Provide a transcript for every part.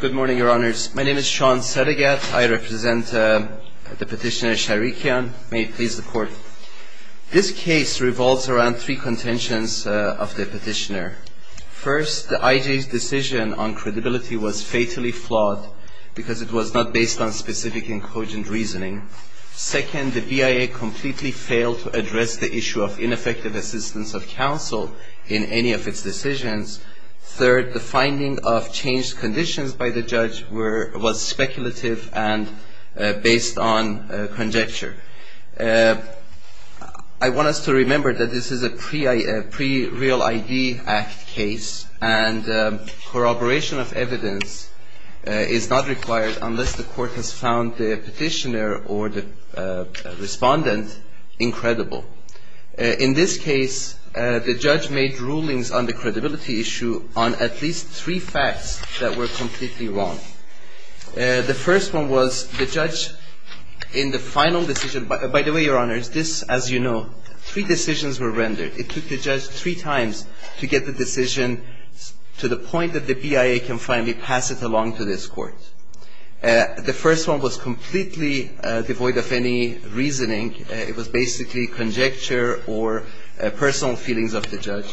Good morning, Your Honors. My name is Sean Sedegat. I represent the Petitioner Sharikyan. May it please the Court. This case revolves around three contentions of the Petitioner. First, the IJ's decision on credibility was fatally flawed because it was not based on specific and cogent reasoning. Second, the BIA completely failed to address the issue of ineffective assistance of counsel in any of its decisions. Third, the finding of changed conditions by the judge was speculative and based on conjecture. I want us to remember that this is a pre-Real ID Act case, and corroboration of evidence is not required unless the court has found the petitioner or the respondent incredible. In this case, the judge made rulings on the credibility issue on at least three facts that were completely wrong. The first one was the judge in the final decision. By the way, Your Honors, this, as you know, three decisions were rendered. It took the judge three times to get the decision to the point that the BIA can finally pass it along to this Court. The first one was completely devoid of any reasoning. It was basically conjecture or personal feelings of the judge.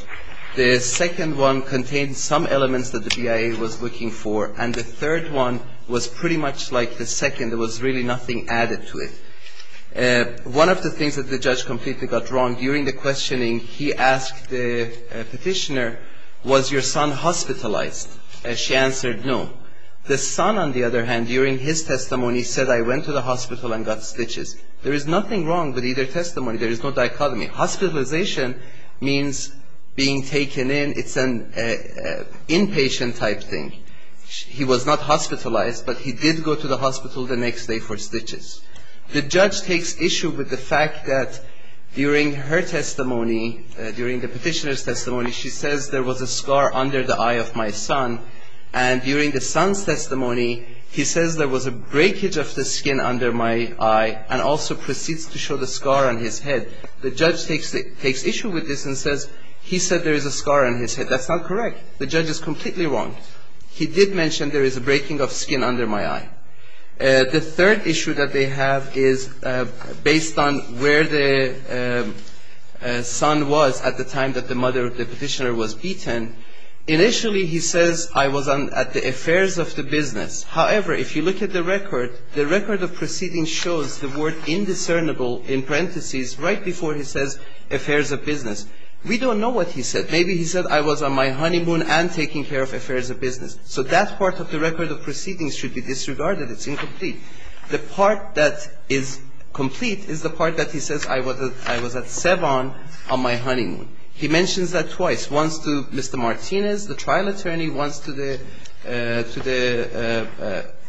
The second one contained some elements that the BIA was looking for, and the third one was pretty much like the second. There was really nothing added to it. One of the things that the judge completely got wrong during the questioning, he asked the petitioner, was your son hospitalized? She answered no. The son, on the other hand, during his testimony said I went to the hospital and got stitches. There is nothing wrong with either testimony. There is no dichotomy. Hospitalization means being taken in. It's an inpatient type thing. He was not hospitalized, but he did go to the hospital the next day for stitches. The judge takes issue with the fact that during her testimony, during the petitioner's testimony, she says there was a scar under the eye of my son. And during the son's testimony, he says there was a breakage of the skin under my eye and also proceeds to show the scar on his head. The judge takes issue with this and says he said there is a scar on his head. That's not correct. The judge is completely wrong. He did mention there is a breaking of skin under my eye. The third issue that they have is based on where the son was at the time that the mother of the petitioner was beaten. Initially, he says I was at the affairs of the business. However, if you look at the record, the record of proceedings shows the word indiscernible in parentheses right before he says affairs of business. We don't know what he said. Maybe he said I was on my honeymoon and taking care of affairs of business. So that part of the record of proceedings should be disregarded. It's incomplete. The part that is complete is the part that he says I was at Savon on my honeymoon. He mentions that twice, once to Mr. Martinez, the trial attorney, once to the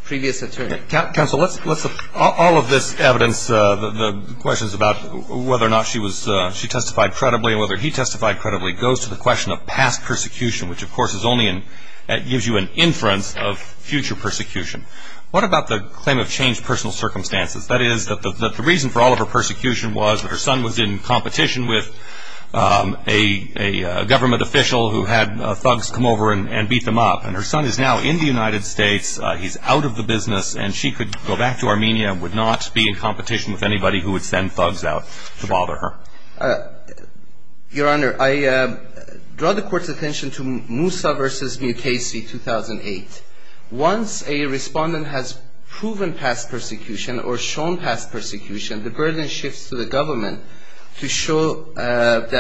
previous attorney. Counsel, all of this evidence, the questions about whether or not she testified credibly and whether he testified credibly goes to the question of past persecution, which of course gives you an inference of future persecution. What about the claim of changed personal circumstances? That is, the reason for all of her persecution was her son was in competition with a government official who had thugs come over and beat them up. Her son is now in the United States. He's out of the business, and she could go back to Armenia and would not be in competition with anybody who would send thugs out to bother her. Your Honor, I draw the Court's attention to Moussa v. Mukasey, 2008. Once a respondent has proven past persecution or shown past persecution, the burden shifts to the government to show that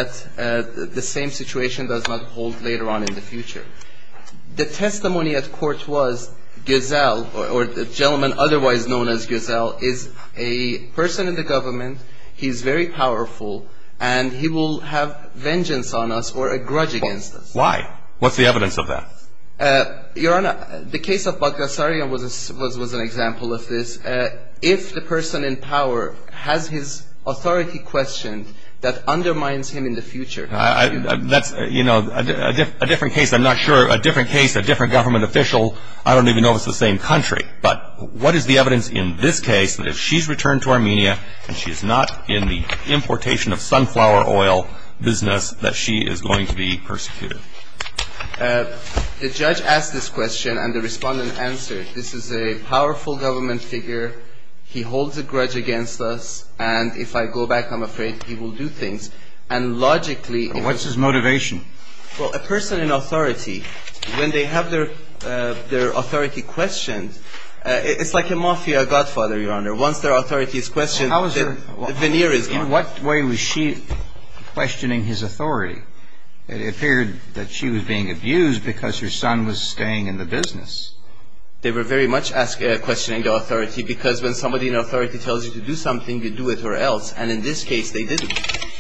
the same situation does not hold later on in the future. The testimony at court was Gazelle, or the gentleman otherwise known as Gazelle, is a person in the government. He's very powerful, and he will have vengeance on us or a grudge against us. Why? What's the evidence of that? Your Honor, the case of Bagdasarian was an example of this. If the person in power has his authority questioned, that undermines him in the future. That's, you know, a different case. I'm not sure. A different case, a different government official. I don't even know if it's the same country. But what is the evidence in this case that if she's returned to Armenia and she's not in the importation of sunflower oil business that she is going to be persecuted? The judge asked this question, and the respondent answered. This is a powerful government figure. He holds a grudge against us, and if I go back, I'm afraid he will do things. And logically... What's his motivation? Well, a person in authority, when they have their authority questioned, it's like a mafia godfather, Your Honor. Once their authority is questioned, their veneer is gone. In what way was she questioning his authority? It appeared that she was being abused because her son was staying in the business. They were very much questioning the authority because when somebody in authority tells you to do something, you do it or else. And in this case, they didn't.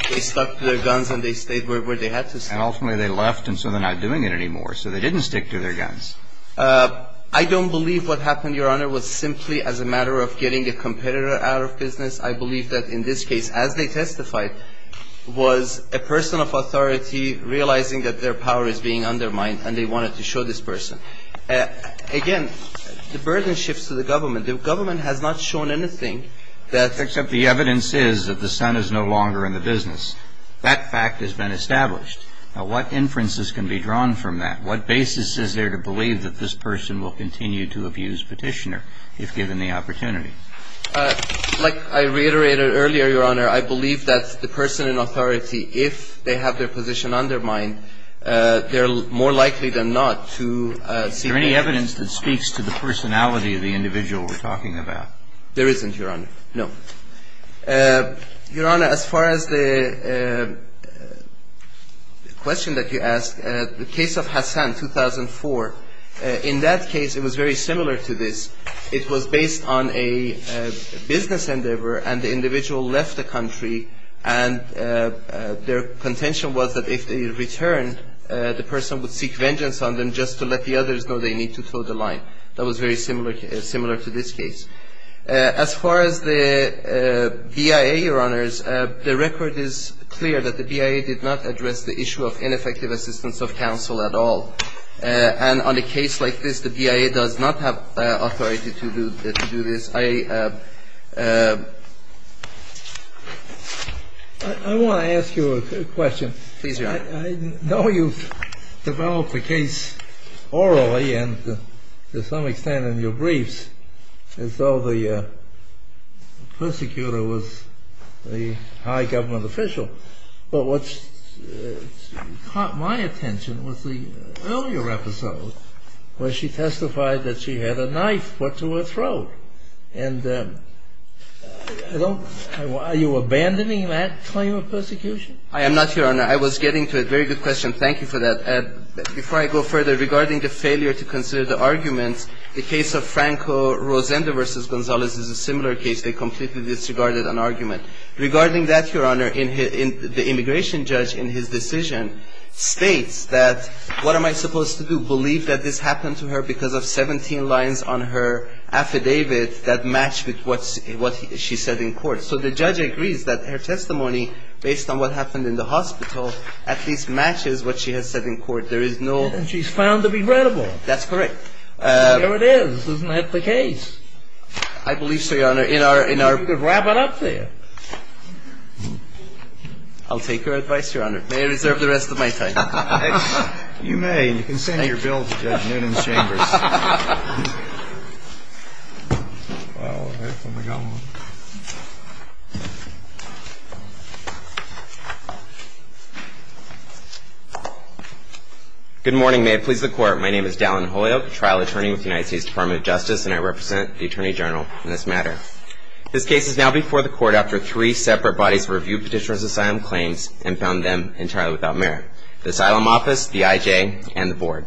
They stuck to their guns and they stayed where they had to stay. And ultimately, they left and so they're not doing it anymore. So they didn't stick to their guns. I don't believe what happened, Your Honor, was simply as a matter of getting a competitor out of business. I believe that in this case, as they testified, was a person of authority realizing that their power is being undermined and they wanted to show this person. Again, the burden shifts to the government. The government has not shown anything that... Except the evidence is that the son is no longer in the business. That fact has been established. Now, what inferences can be drawn from that? What basis is there to believe that this person will continue to abuse Petitioner if given the opportunity? Like I reiterated earlier, Your Honor, I believe that the person in authority, if they have their position undermined, they're more likely than not to... Is there any evidence that speaks to the personality of the individual we're talking about? There isn't, Your Honor. No. Your Honor, as far as the question that you asked, the case of Hassan, 2004, in that case it was very similar to this. It was based on a business endeavor and the individual left the country and their contention was that if they returned, the person would seek vengeance on them just to let the others know they need to throw the line. That was very similar to this case. As far as the BIA, Your Honors, the record is clear that the BIA did not address the issue of ineffective assistance of counsel at all. And on a case like this, the BIA does not have authority to do this. I want to ask you a question. Please, Your Honor. I know you've developed the case orally and to some extent in your briefs as though the persecutor was the high government official. But what caught my attention was the earlier episode where she testified that she had a knife put to her throat. And are you abandoning that claim of persecution? I am not, Your Honor. I was getting to it. Very good question. Thank you for that. Before I go further, regarding the failure to consider the arguments, the case of Franco Rosendo versus Gonzalez is a similar case. They completely disregarded an argument. Regarding that, Your Honor, the immigration judge in his decision states that what am I supposed to do, believe that this happened to her because of 17 lines on her affidavit that match with what she said in court. So the judge agrees that her testimony, based on what happened in the hospital, at least matches what she has said in court. There is no... And she's found to be credible. That's correct. There it is. Isn't that the case? I believe so, Your Honor. You could wrap it up there. I'll take her advice, Your Honor. May I reserve the rest of my time? You may. You can send your bill to Judge Noonan Chambers. All right. Let me go on. Good morning. May it please the Court. My name is Dallin Holyoke, trial attorney with the United States Department of Justice, and I represent the Attorney General in this matter. This case is now before the Court after three separate bodies reviewed Petitioner's Asylum claims and found them entirely without merit, the Asylum Office, the IJ, and the Board.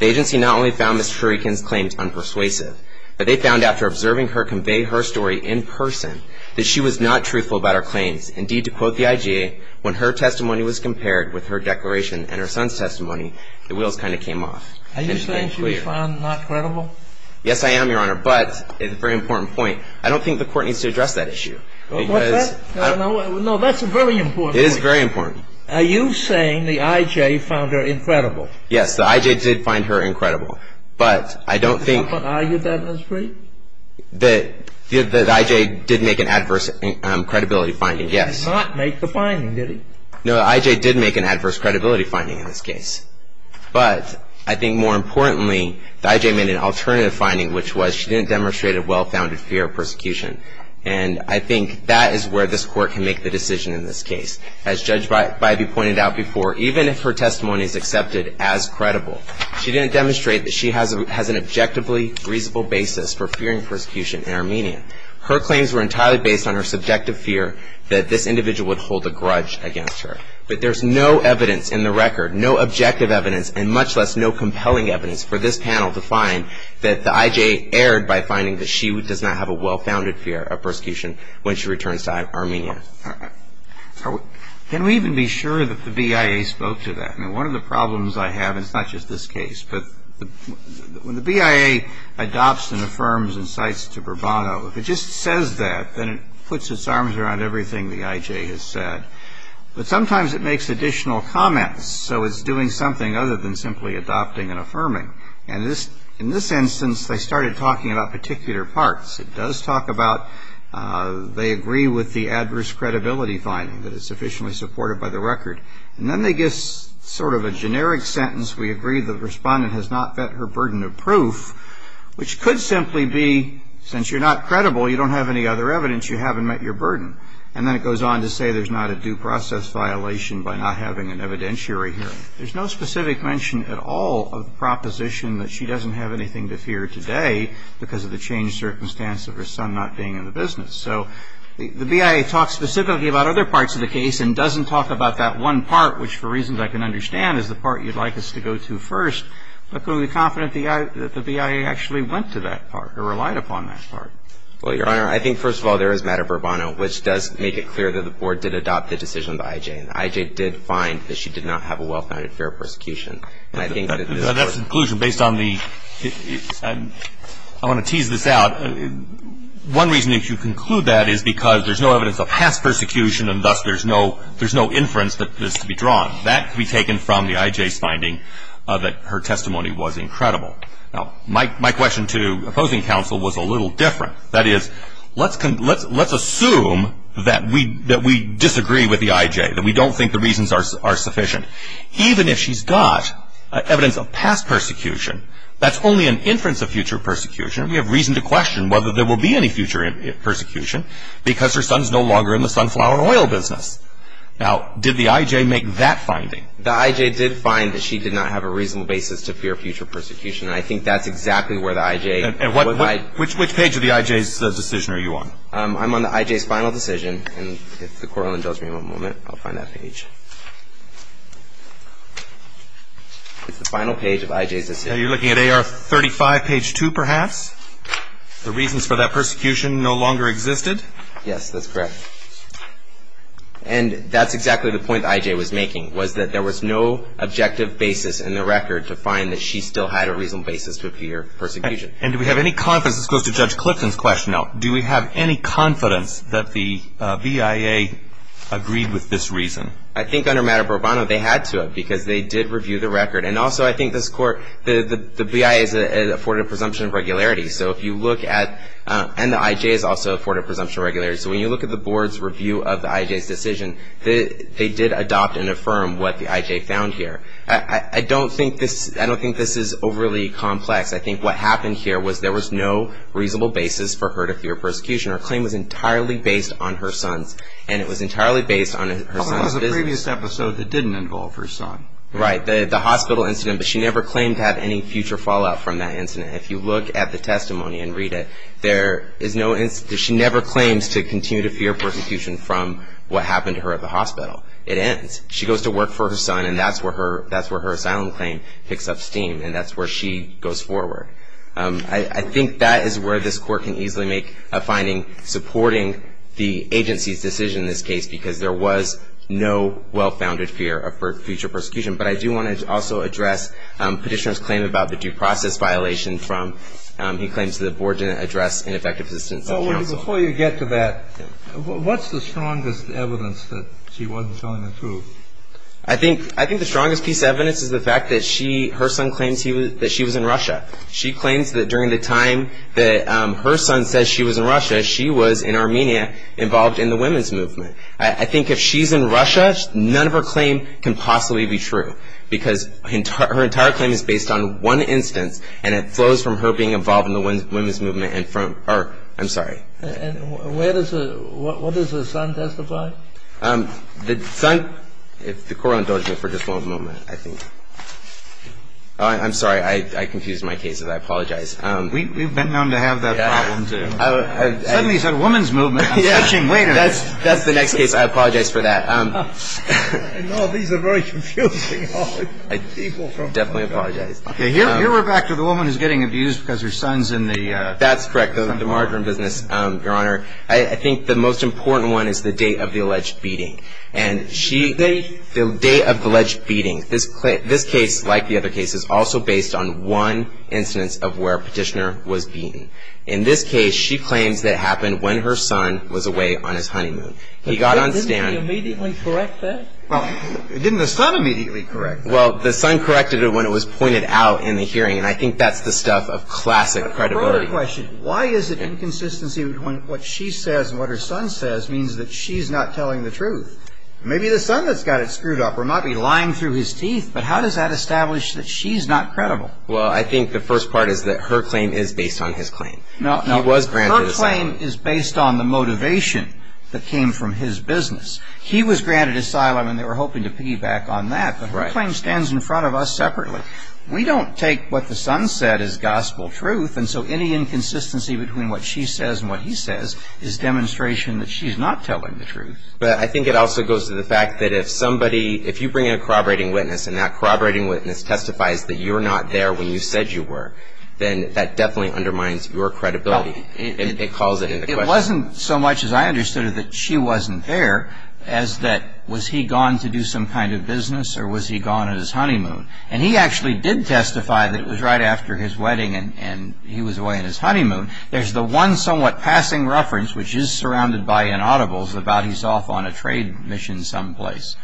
The agency not only found Ms. Shurikin's claims unpersuasive, but they found, after observing her convey her story in person, that she was not truthful about her claims. Indeed, to quote the IJ, when her testimony was compared with her declaration and her son's testimony, the wheels kind of came off. Are you saying she was found not credible? Yes, I am, Your Honor, but a very important point. I don't think the Court needs to address that issue. What's that? No, that's a very important point. It is very important. Are you saying the IJ found her incredible? Yes, the IJ did find her incredible. But I don't think — But argued that as free? The IJ did make an adverse credibility finding, yes. She did not make the finding, did she? No, the IJ did make an adverse credibility finding in this case. But I think more importantly, the IJ made an alternative finding, which was she didn't demonstrate a well-founded fear of persecution. And I think that is where this Court can make the decision in this case. As Judge Bivey pointed out before, even if her testimony is accepted as credible, she didn't demonstrate that she has an objectively reasonable basis for fearing persecution in Armenia. Her claims were entirely based on her subjective fear that this individual would hold a grudge against her. But there's no evidence in the record, no objective evidence, and much less no compelling evidence, for this panel to find that the IJ erred by finding that she does not have a well-founded fear of persecution when she returns to Armenia. Can we even be sure that the BIA spoke to that? I mean, one of the problems I have, and it's not just this case, but when the BIA adopts and affirms and cites to Bourbano, if it just says that, then it puts its arms around everything the IJ has said. But sometimes it makes additional comments, so it's doing something other than simply adopting and affirming. And in this instance, they started talking about particular parts. It does talk about they agree with the adverse credibility finding, that it's sufficiently supported by the record. And then they give sort of a generic sentence, we agree the respondent has not met her burden of proof, which could simply be, since you're not credible, you don't have any other evidence, you haven't met your burden. And then it goes on to say there's not a due process violation by not having an evidentiary hearing. There's no specific mention at all of the proposition that she doesn't have anything to fear today because of the changed circumstance of her son not being in the business. So the BIA talks specifically about other parts of the case and doesn't talk about that one part, which, for reasons I can understand, is the part you'd like us to go to first. But can we be confident that the BIA actually went to that part or relied upon that part? Well, Your Honor, I think, first of all, there is matter of Bourbano, which does make it clear that the Board did adopt the decision of the IJ. And the IJ did find that she did not have a well-founded fair prosecution. That's the conclusion based on the – I want to tease this out. One reason that you conclude that is because there's no evidence of past persecution and thus there's no inference that is to be drawn. That can be taken from the IJ's finding that her testimony was incredible. Now, my question to opposing counsel was a little different. That is, let's assume that we disagree with the IJ, that we don't think the reasons are sufficient. Even if she's got evidence of past persecution, that's only an inference of future persecution. We have reason to question whether there will be any future persecution because her son is no longer in the sunflower oil business. Now, did the IJ make that finding? The IJ did find that she did not have a reasonable basis to fear future persecution. I think that's exactly where the IJ – Which page of the IJ's decision are you on? I'm on the IJ's final decision. It's the final page of IJ's decision. Now, you're looking at AR 35, page 2, perhaps? The reasons for that persecution no longer existed? Yes, that's correct. And that's exactly the point the IJ was making, was that there was no objective basis in the record to find that she still had a reasonable basis to fear persecution. And do we have any confidence – this goes to Judge Clifton's question now – do we have any confidence that the BIA agreed with this reason? I think under Madam Bourbono they had to have because they did review the record. And also I think this Court – the BIA is afforded a presumption of regularity. So if you look at – and the IJ is also afforded a presumption of regularity. So when you look at the Board's review of the IJ's decision, they did adopt and affirm what the IJ found here. I don't think this is overly complex. I think what happened here was there was no reasonable basis for her to fear persecution. Her claim was entirely based on her son's – and it was entirely based on her son's – Well, there was a previous episode that didn't involve her son. Right, the hospital incident. But she never claimed to have any future fallout from that incident. If you look at the testimony and read it, there is no – she never claims to continue to fear persecution from what happened to her at the hospital. It ends. She goes to work for her son, and that's where her asylum claim picks up steam. And that's where she goes forward. I think that is where this Court can easily make a finding supporting the agency's decision in this case because there was no well-founded fear of future persecution. But I do want to also address Petitioner's claim about the due process violation from – he claims the Board didn't address ineffective assistance of counsel. So before you get to that, what's the strongest evidence that she wasn't telling the truth? I think the strongest piece of evidence is the fact that she – her son claims that she was in Russia. She claims that during the time that her son says she was in Russia, she was in Armenia involved in the women's movement. I think if she's in Russia, none of her claim can possibly be true because her entire claim is based on one instance, and it flows from her being involved in the women's movement and from – or, I'm sorry. And where does – what does her son testify? The son – if the Court will indulge me for just one moment, I think. I'm sorry. I confused my cases. I apologize. We've been known to have that problem, too. Suddenly it's the women's movement. I'm switching. Wait a minute. That's the next case. I apologize for that. No, these are very confusing. I definitely apologize. Okay. Here we're back to the woman who's getting abused because her son's in the – That's correct. The margarine business, Your Honor. I think the most important one is the date of the alleged beating. And she – Date? The date of the alleged beating. This case, like the other cases, also based on one instance of where a Petitioner was beaten. In this case, she claims that it happened when her son was away on his honeymoon. He got on stand – Didn't he immediately correct that? Well, didn't the son immediately correct that? Well, the son corrected it when it was pointed out in the hearing, and I think that's the stuff of classic credibility. I have another question. Why is it inconsistency between what she says and what her son says means that she's not telling the truth? Maybe the son has got it screwed up or might be lying through his teeth, but how does that establish that she's not credible? Well, I think the first part is that her claim is based on his claim. No, no. He was granted asylum. Her claim is based on the motivation that came from his business. He was granted asylum, and they were hoping to piggyback on that. Right. But her claim stands in front of us separately. We don't take what the son said as gospel truth, and so any inconsistency between what she says and what he says is demonstration that she's not telling the truth. But I think it also goes to the fact that if somebody – if you bring in a corroborating witness and that corroborating witness testifies that you were not there when you said you were, then that definitely undermines your credibility. It calls it into question. It wasn't so much, as I understood it, that she wasn't there, as that was he gone to do some kind of business or was he gone on his honeymoon? And he actually did testify that it was right after his wedding and he was away on his honeymoon. There's the one somewhat passing reference, which is surrounded by inaudibles, about he's off on a trade mission someplace.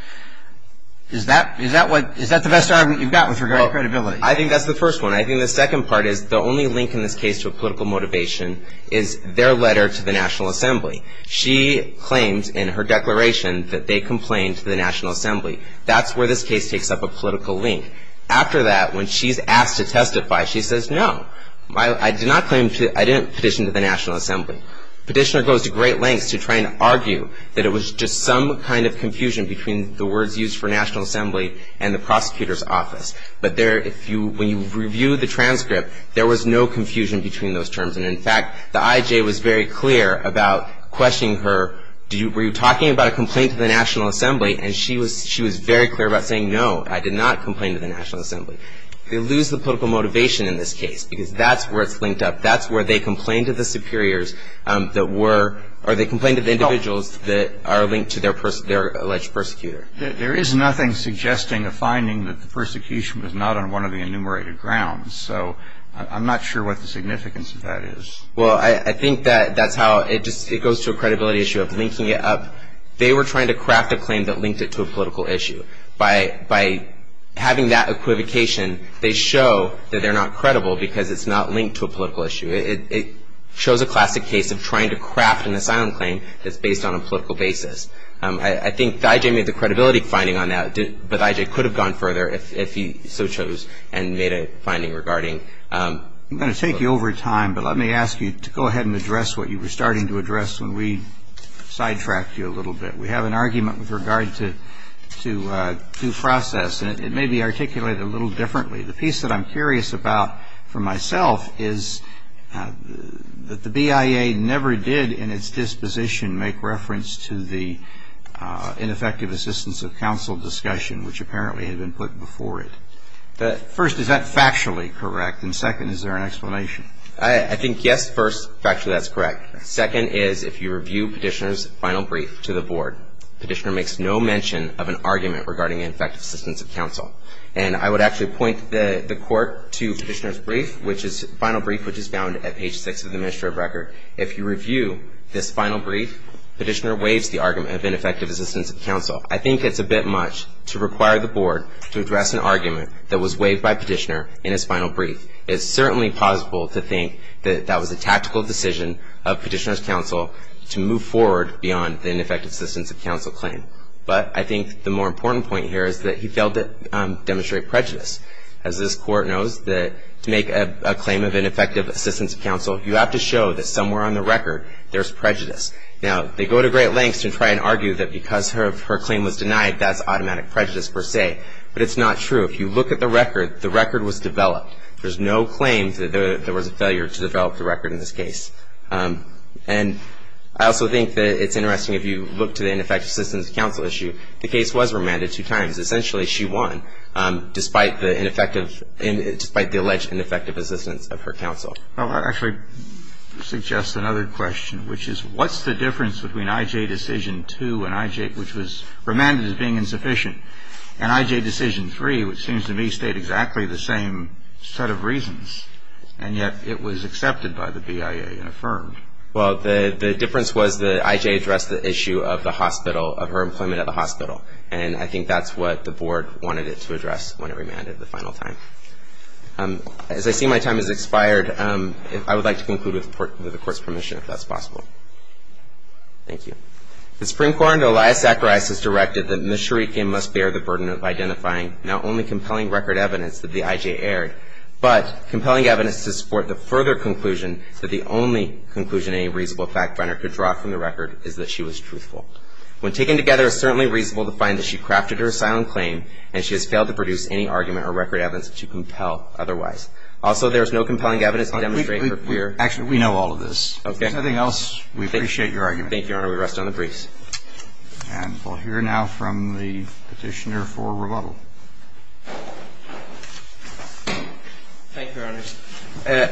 Is that what – is that the best argument you've got with regard to credibility? Well, I think that's the first one. I think the second part is the only link in this case to a political motivation is their letter to the National Assembly. She claims in her declaration that they complained to the National Assembly. That's where this case takes up a political link. After that, when she's asked to testify, she says, no, I did not claim to – I didn't petition to the National Assembly. Petitioner goes to great lengths to try and argue that it was just some kind of confusion between the words used for National Assembly and the prosecutor's office. But there – if you – when you review the transcript, there was no confusion between those terms. And, in fact, the IJ was very clear about questioning her. Were you talking about a complaint to the National Assembly? And she was very clear about saying, no, I did not complain to the National Assembly. They lose the political motivation in this case because that's where it's linked up. That's where they complained to the superiors that were – or they complained to the individuals that are linked to their alleged persecutor. There is nothing suggesting a finding that the persecution was not on one of the enumerated grounds. So I'm not sure what the significance of that is. Well, I think that that's how – it just – it goes to a credibility issue of linking it up. They were trying to craft a claim that linked it to a political issue. By having that equivocation, they show that they're not credible because it's not linked to a political issue. It shows a classic case of trying to craft an asylum claim that's based on a political basis. I think the IJ made the credibility finding on that. But the IJ could have gone further if he so chose and made a finding regarding – I'm going to take you over time, but let me ask you to go ahead and address what you were starting to address when we sidetracked you a little bit. We have an argument with regard to due process, and it may be articulated a little differently. The piece that I'm curious about for myself is that the BIA never did, in its disposition, make reference to the ineffective assistance of counsel discussion, which apparently had been put before it. First, is that factually correct? And second, is there an explanation? I think, yes, first, factually that's correct. Second is, if you review Petitioner's final brief to the Board, Petitioner makes no mention of an argument regarding ineffective assistance of counsel. And I would actually point the Court to Petitioner's brief, which is – final brief, which is found at page 6 of the administrative record. If you review this final brief, Petitioner waives the argument of ineffective assistance of counsel. I think it's a bit much to require the Board to address an argument that was waived by Petitioner in his final brief. It's certainly possible to think that that was a tactical decision of Petitioner's counsel to move forward beyond the ineffective assistance of counsel claim. But I think the more important point here is that he failed to demonstrate prejudice. As this Court knows, to make a claim of ineffective assistance of counsel, you have to show that somewhere on the record there's prejudice. Now, they go to great lengths to try and argue that because her claim was denied, that's automatic prejudice per se. But it's not true. If you look at the record, the record was developed. There's no claim that there was a failure to develop the record in this case. And I also think that it's interesting, if you look to the ineffective assistance of counsel issue, the case was remanded two times. Essentially, she won, despite the alleged ineffective assistance of her counsel. Well, that actually suggests another question, which is, what's the difference between I.J. decision two, which was remanded as being insufficient, and I.J. decision three, which seems to me state exactly the same set of reasons, and yet it was accepted by the BIA and affirmed? Well, the difference was that I.J. addressed the issue of the hospital, of her employment at the hospital. And I think that's what the Board wanted it to address when it remanded the final time. As I see my time has expired, I would like to conclude with the Court's permission, if that's possible. Thank you. The Supreme Court under Elias Zacharias has directed that Ms. Shurikian must bear the burden of identifying not only compelling record evidence that the I.J. aired, but compelling evidence to support the further conclusion that the only conclusion any reasonable fact finder could draw from the record is that she was truthful. When taken together, it's certainly reasonable to find that she crafted her asylum claim and she has failed to produce any argument or record evidence to compel otherwise. Also, there is no compelling evidence to demonstrate her clear- Actually, we know all of this. Okay. If there's nothing else, we appreciate your argument. Thank you, Your Honor. We rest on the briefs. And we'll hear now from the Petitioner for rebuttal. Thank you, Your Honor.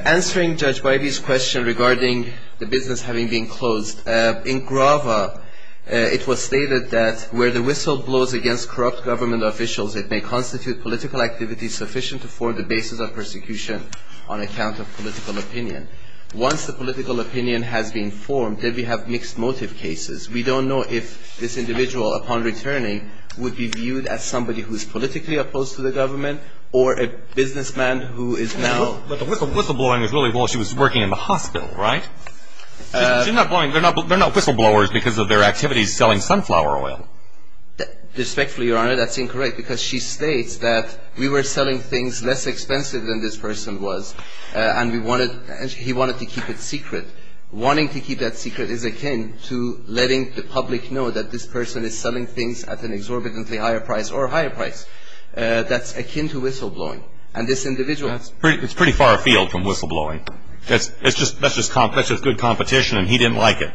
Answering Judge Bybee's question regarding the business having been closed, in Grava, it was stated that where the whistle blows against corrupt government officials, it may constitute political activity sufficient to form the basis of persecution on account of political opinion. Once the political opinion has been formed, then we have mixed motive cases. We don't know if this individual, upon returning, would be viewed as somebody who is politically opposed to the government or a businessman who is now- But the whistle blowing was really while she was working in the hospital, right? She's not blowing. They're not whistle blowers because of their activities selling sunflower oil. Respectfully, Your Honor, that's incorrect because she states that we were selling things less expensive than this person was, and he wanted to keep it secret. Wanting to keep that secret is akin to letting the public know that this person is selling things at an exorbitantly higher price or a higher price. That's akin to whistle blowing. And this individual- That's pretty far afield from whistle blowing. That's just good competition, and he didn't like it.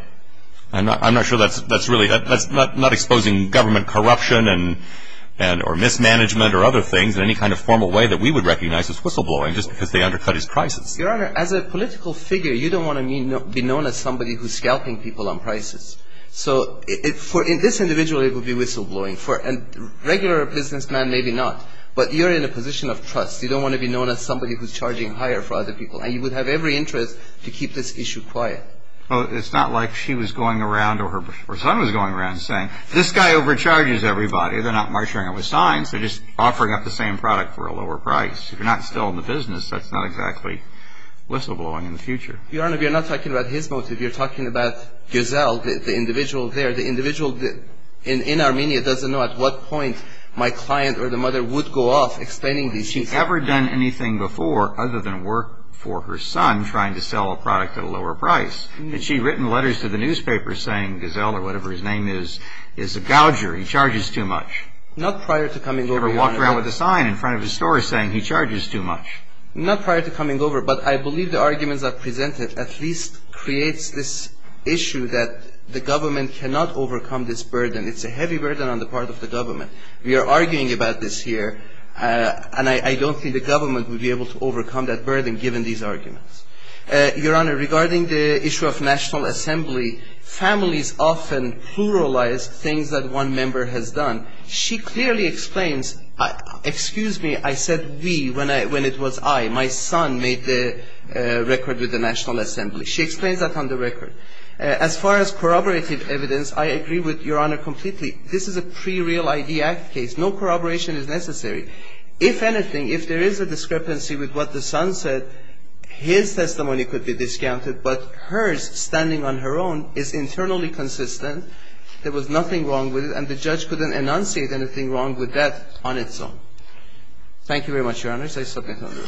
I'm not sure that's really- That's not exposing government corruption or mismanagement or other things in any kind of formal way that we would recognize as whistle blowing just because they undercut his prices. Your Honor, as a political figure, you don't want to be known as somebody who's scalping people on prices. So for this individual, it would be whistle blowing. For a regular businessman, maybe not. But you're in a position of trust. You don't want to be known as somebody who's charging higher for other people, and you would have every interest to keep this issue quiet. Well, it's not like she was going around or her son was going around saying, this guy overcharges everybody. They're not marketing it with signs. They're just offering up the same product for a lower price. If you're not still in the business, that's not exactly whistle blowing in the future. Your Honor, we are not talking about his motive. We are talking about Giselle, the individual there. The individual in Armenia doesn't know at what point my client or the mother would go off explaining these things. Has she ever done anything before other than work for her son trying to sell a product at a lower price? Has she written letters to the newspapers saying Giselle or whatever his name is, is a gouger, he charges too much? Not prior to coming over, Your Honor. Has she ever walked around with a sign in front of his store saying he charges too much? Not prior to coming over. But I believe the arguments are presented at least creates this issue that the government cannot overcome this burden. It's a heavy burden on the part of the government. We are arguing about this here. And I don't think the government would be able to overcome that burden given these arguments. Your Honor, regarding the issue of national assembly, families often pluralize things that one member has done. She clearly explains, excuse me, I said we when it was I. My son made the record with the national assembly. She explains that on the record. As far as corroborative evidence, I agree with Your Honor completely. This is a pre-Real ID Act case. No corroboration is necessary. If anything, if there is a discrepancy with what the son said, his testimony could be discounted. But hers, standing on her own, is internally consistent. There was nothing wrong with it. And the judge couldn't enunciate anything wrong with that on its own. Thank you very much, Your Honors. I submit no further.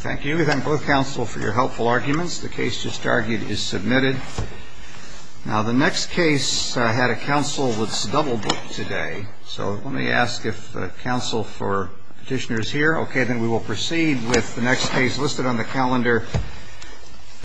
Thank you. We thank both counsel for your helpful arguments. The case just argued is submitted. Now, the next case had a counsel that's double booked today. So let me ask if counsel for petitioner is here. Okay. Then we will proceed with the next case listed on the calendar.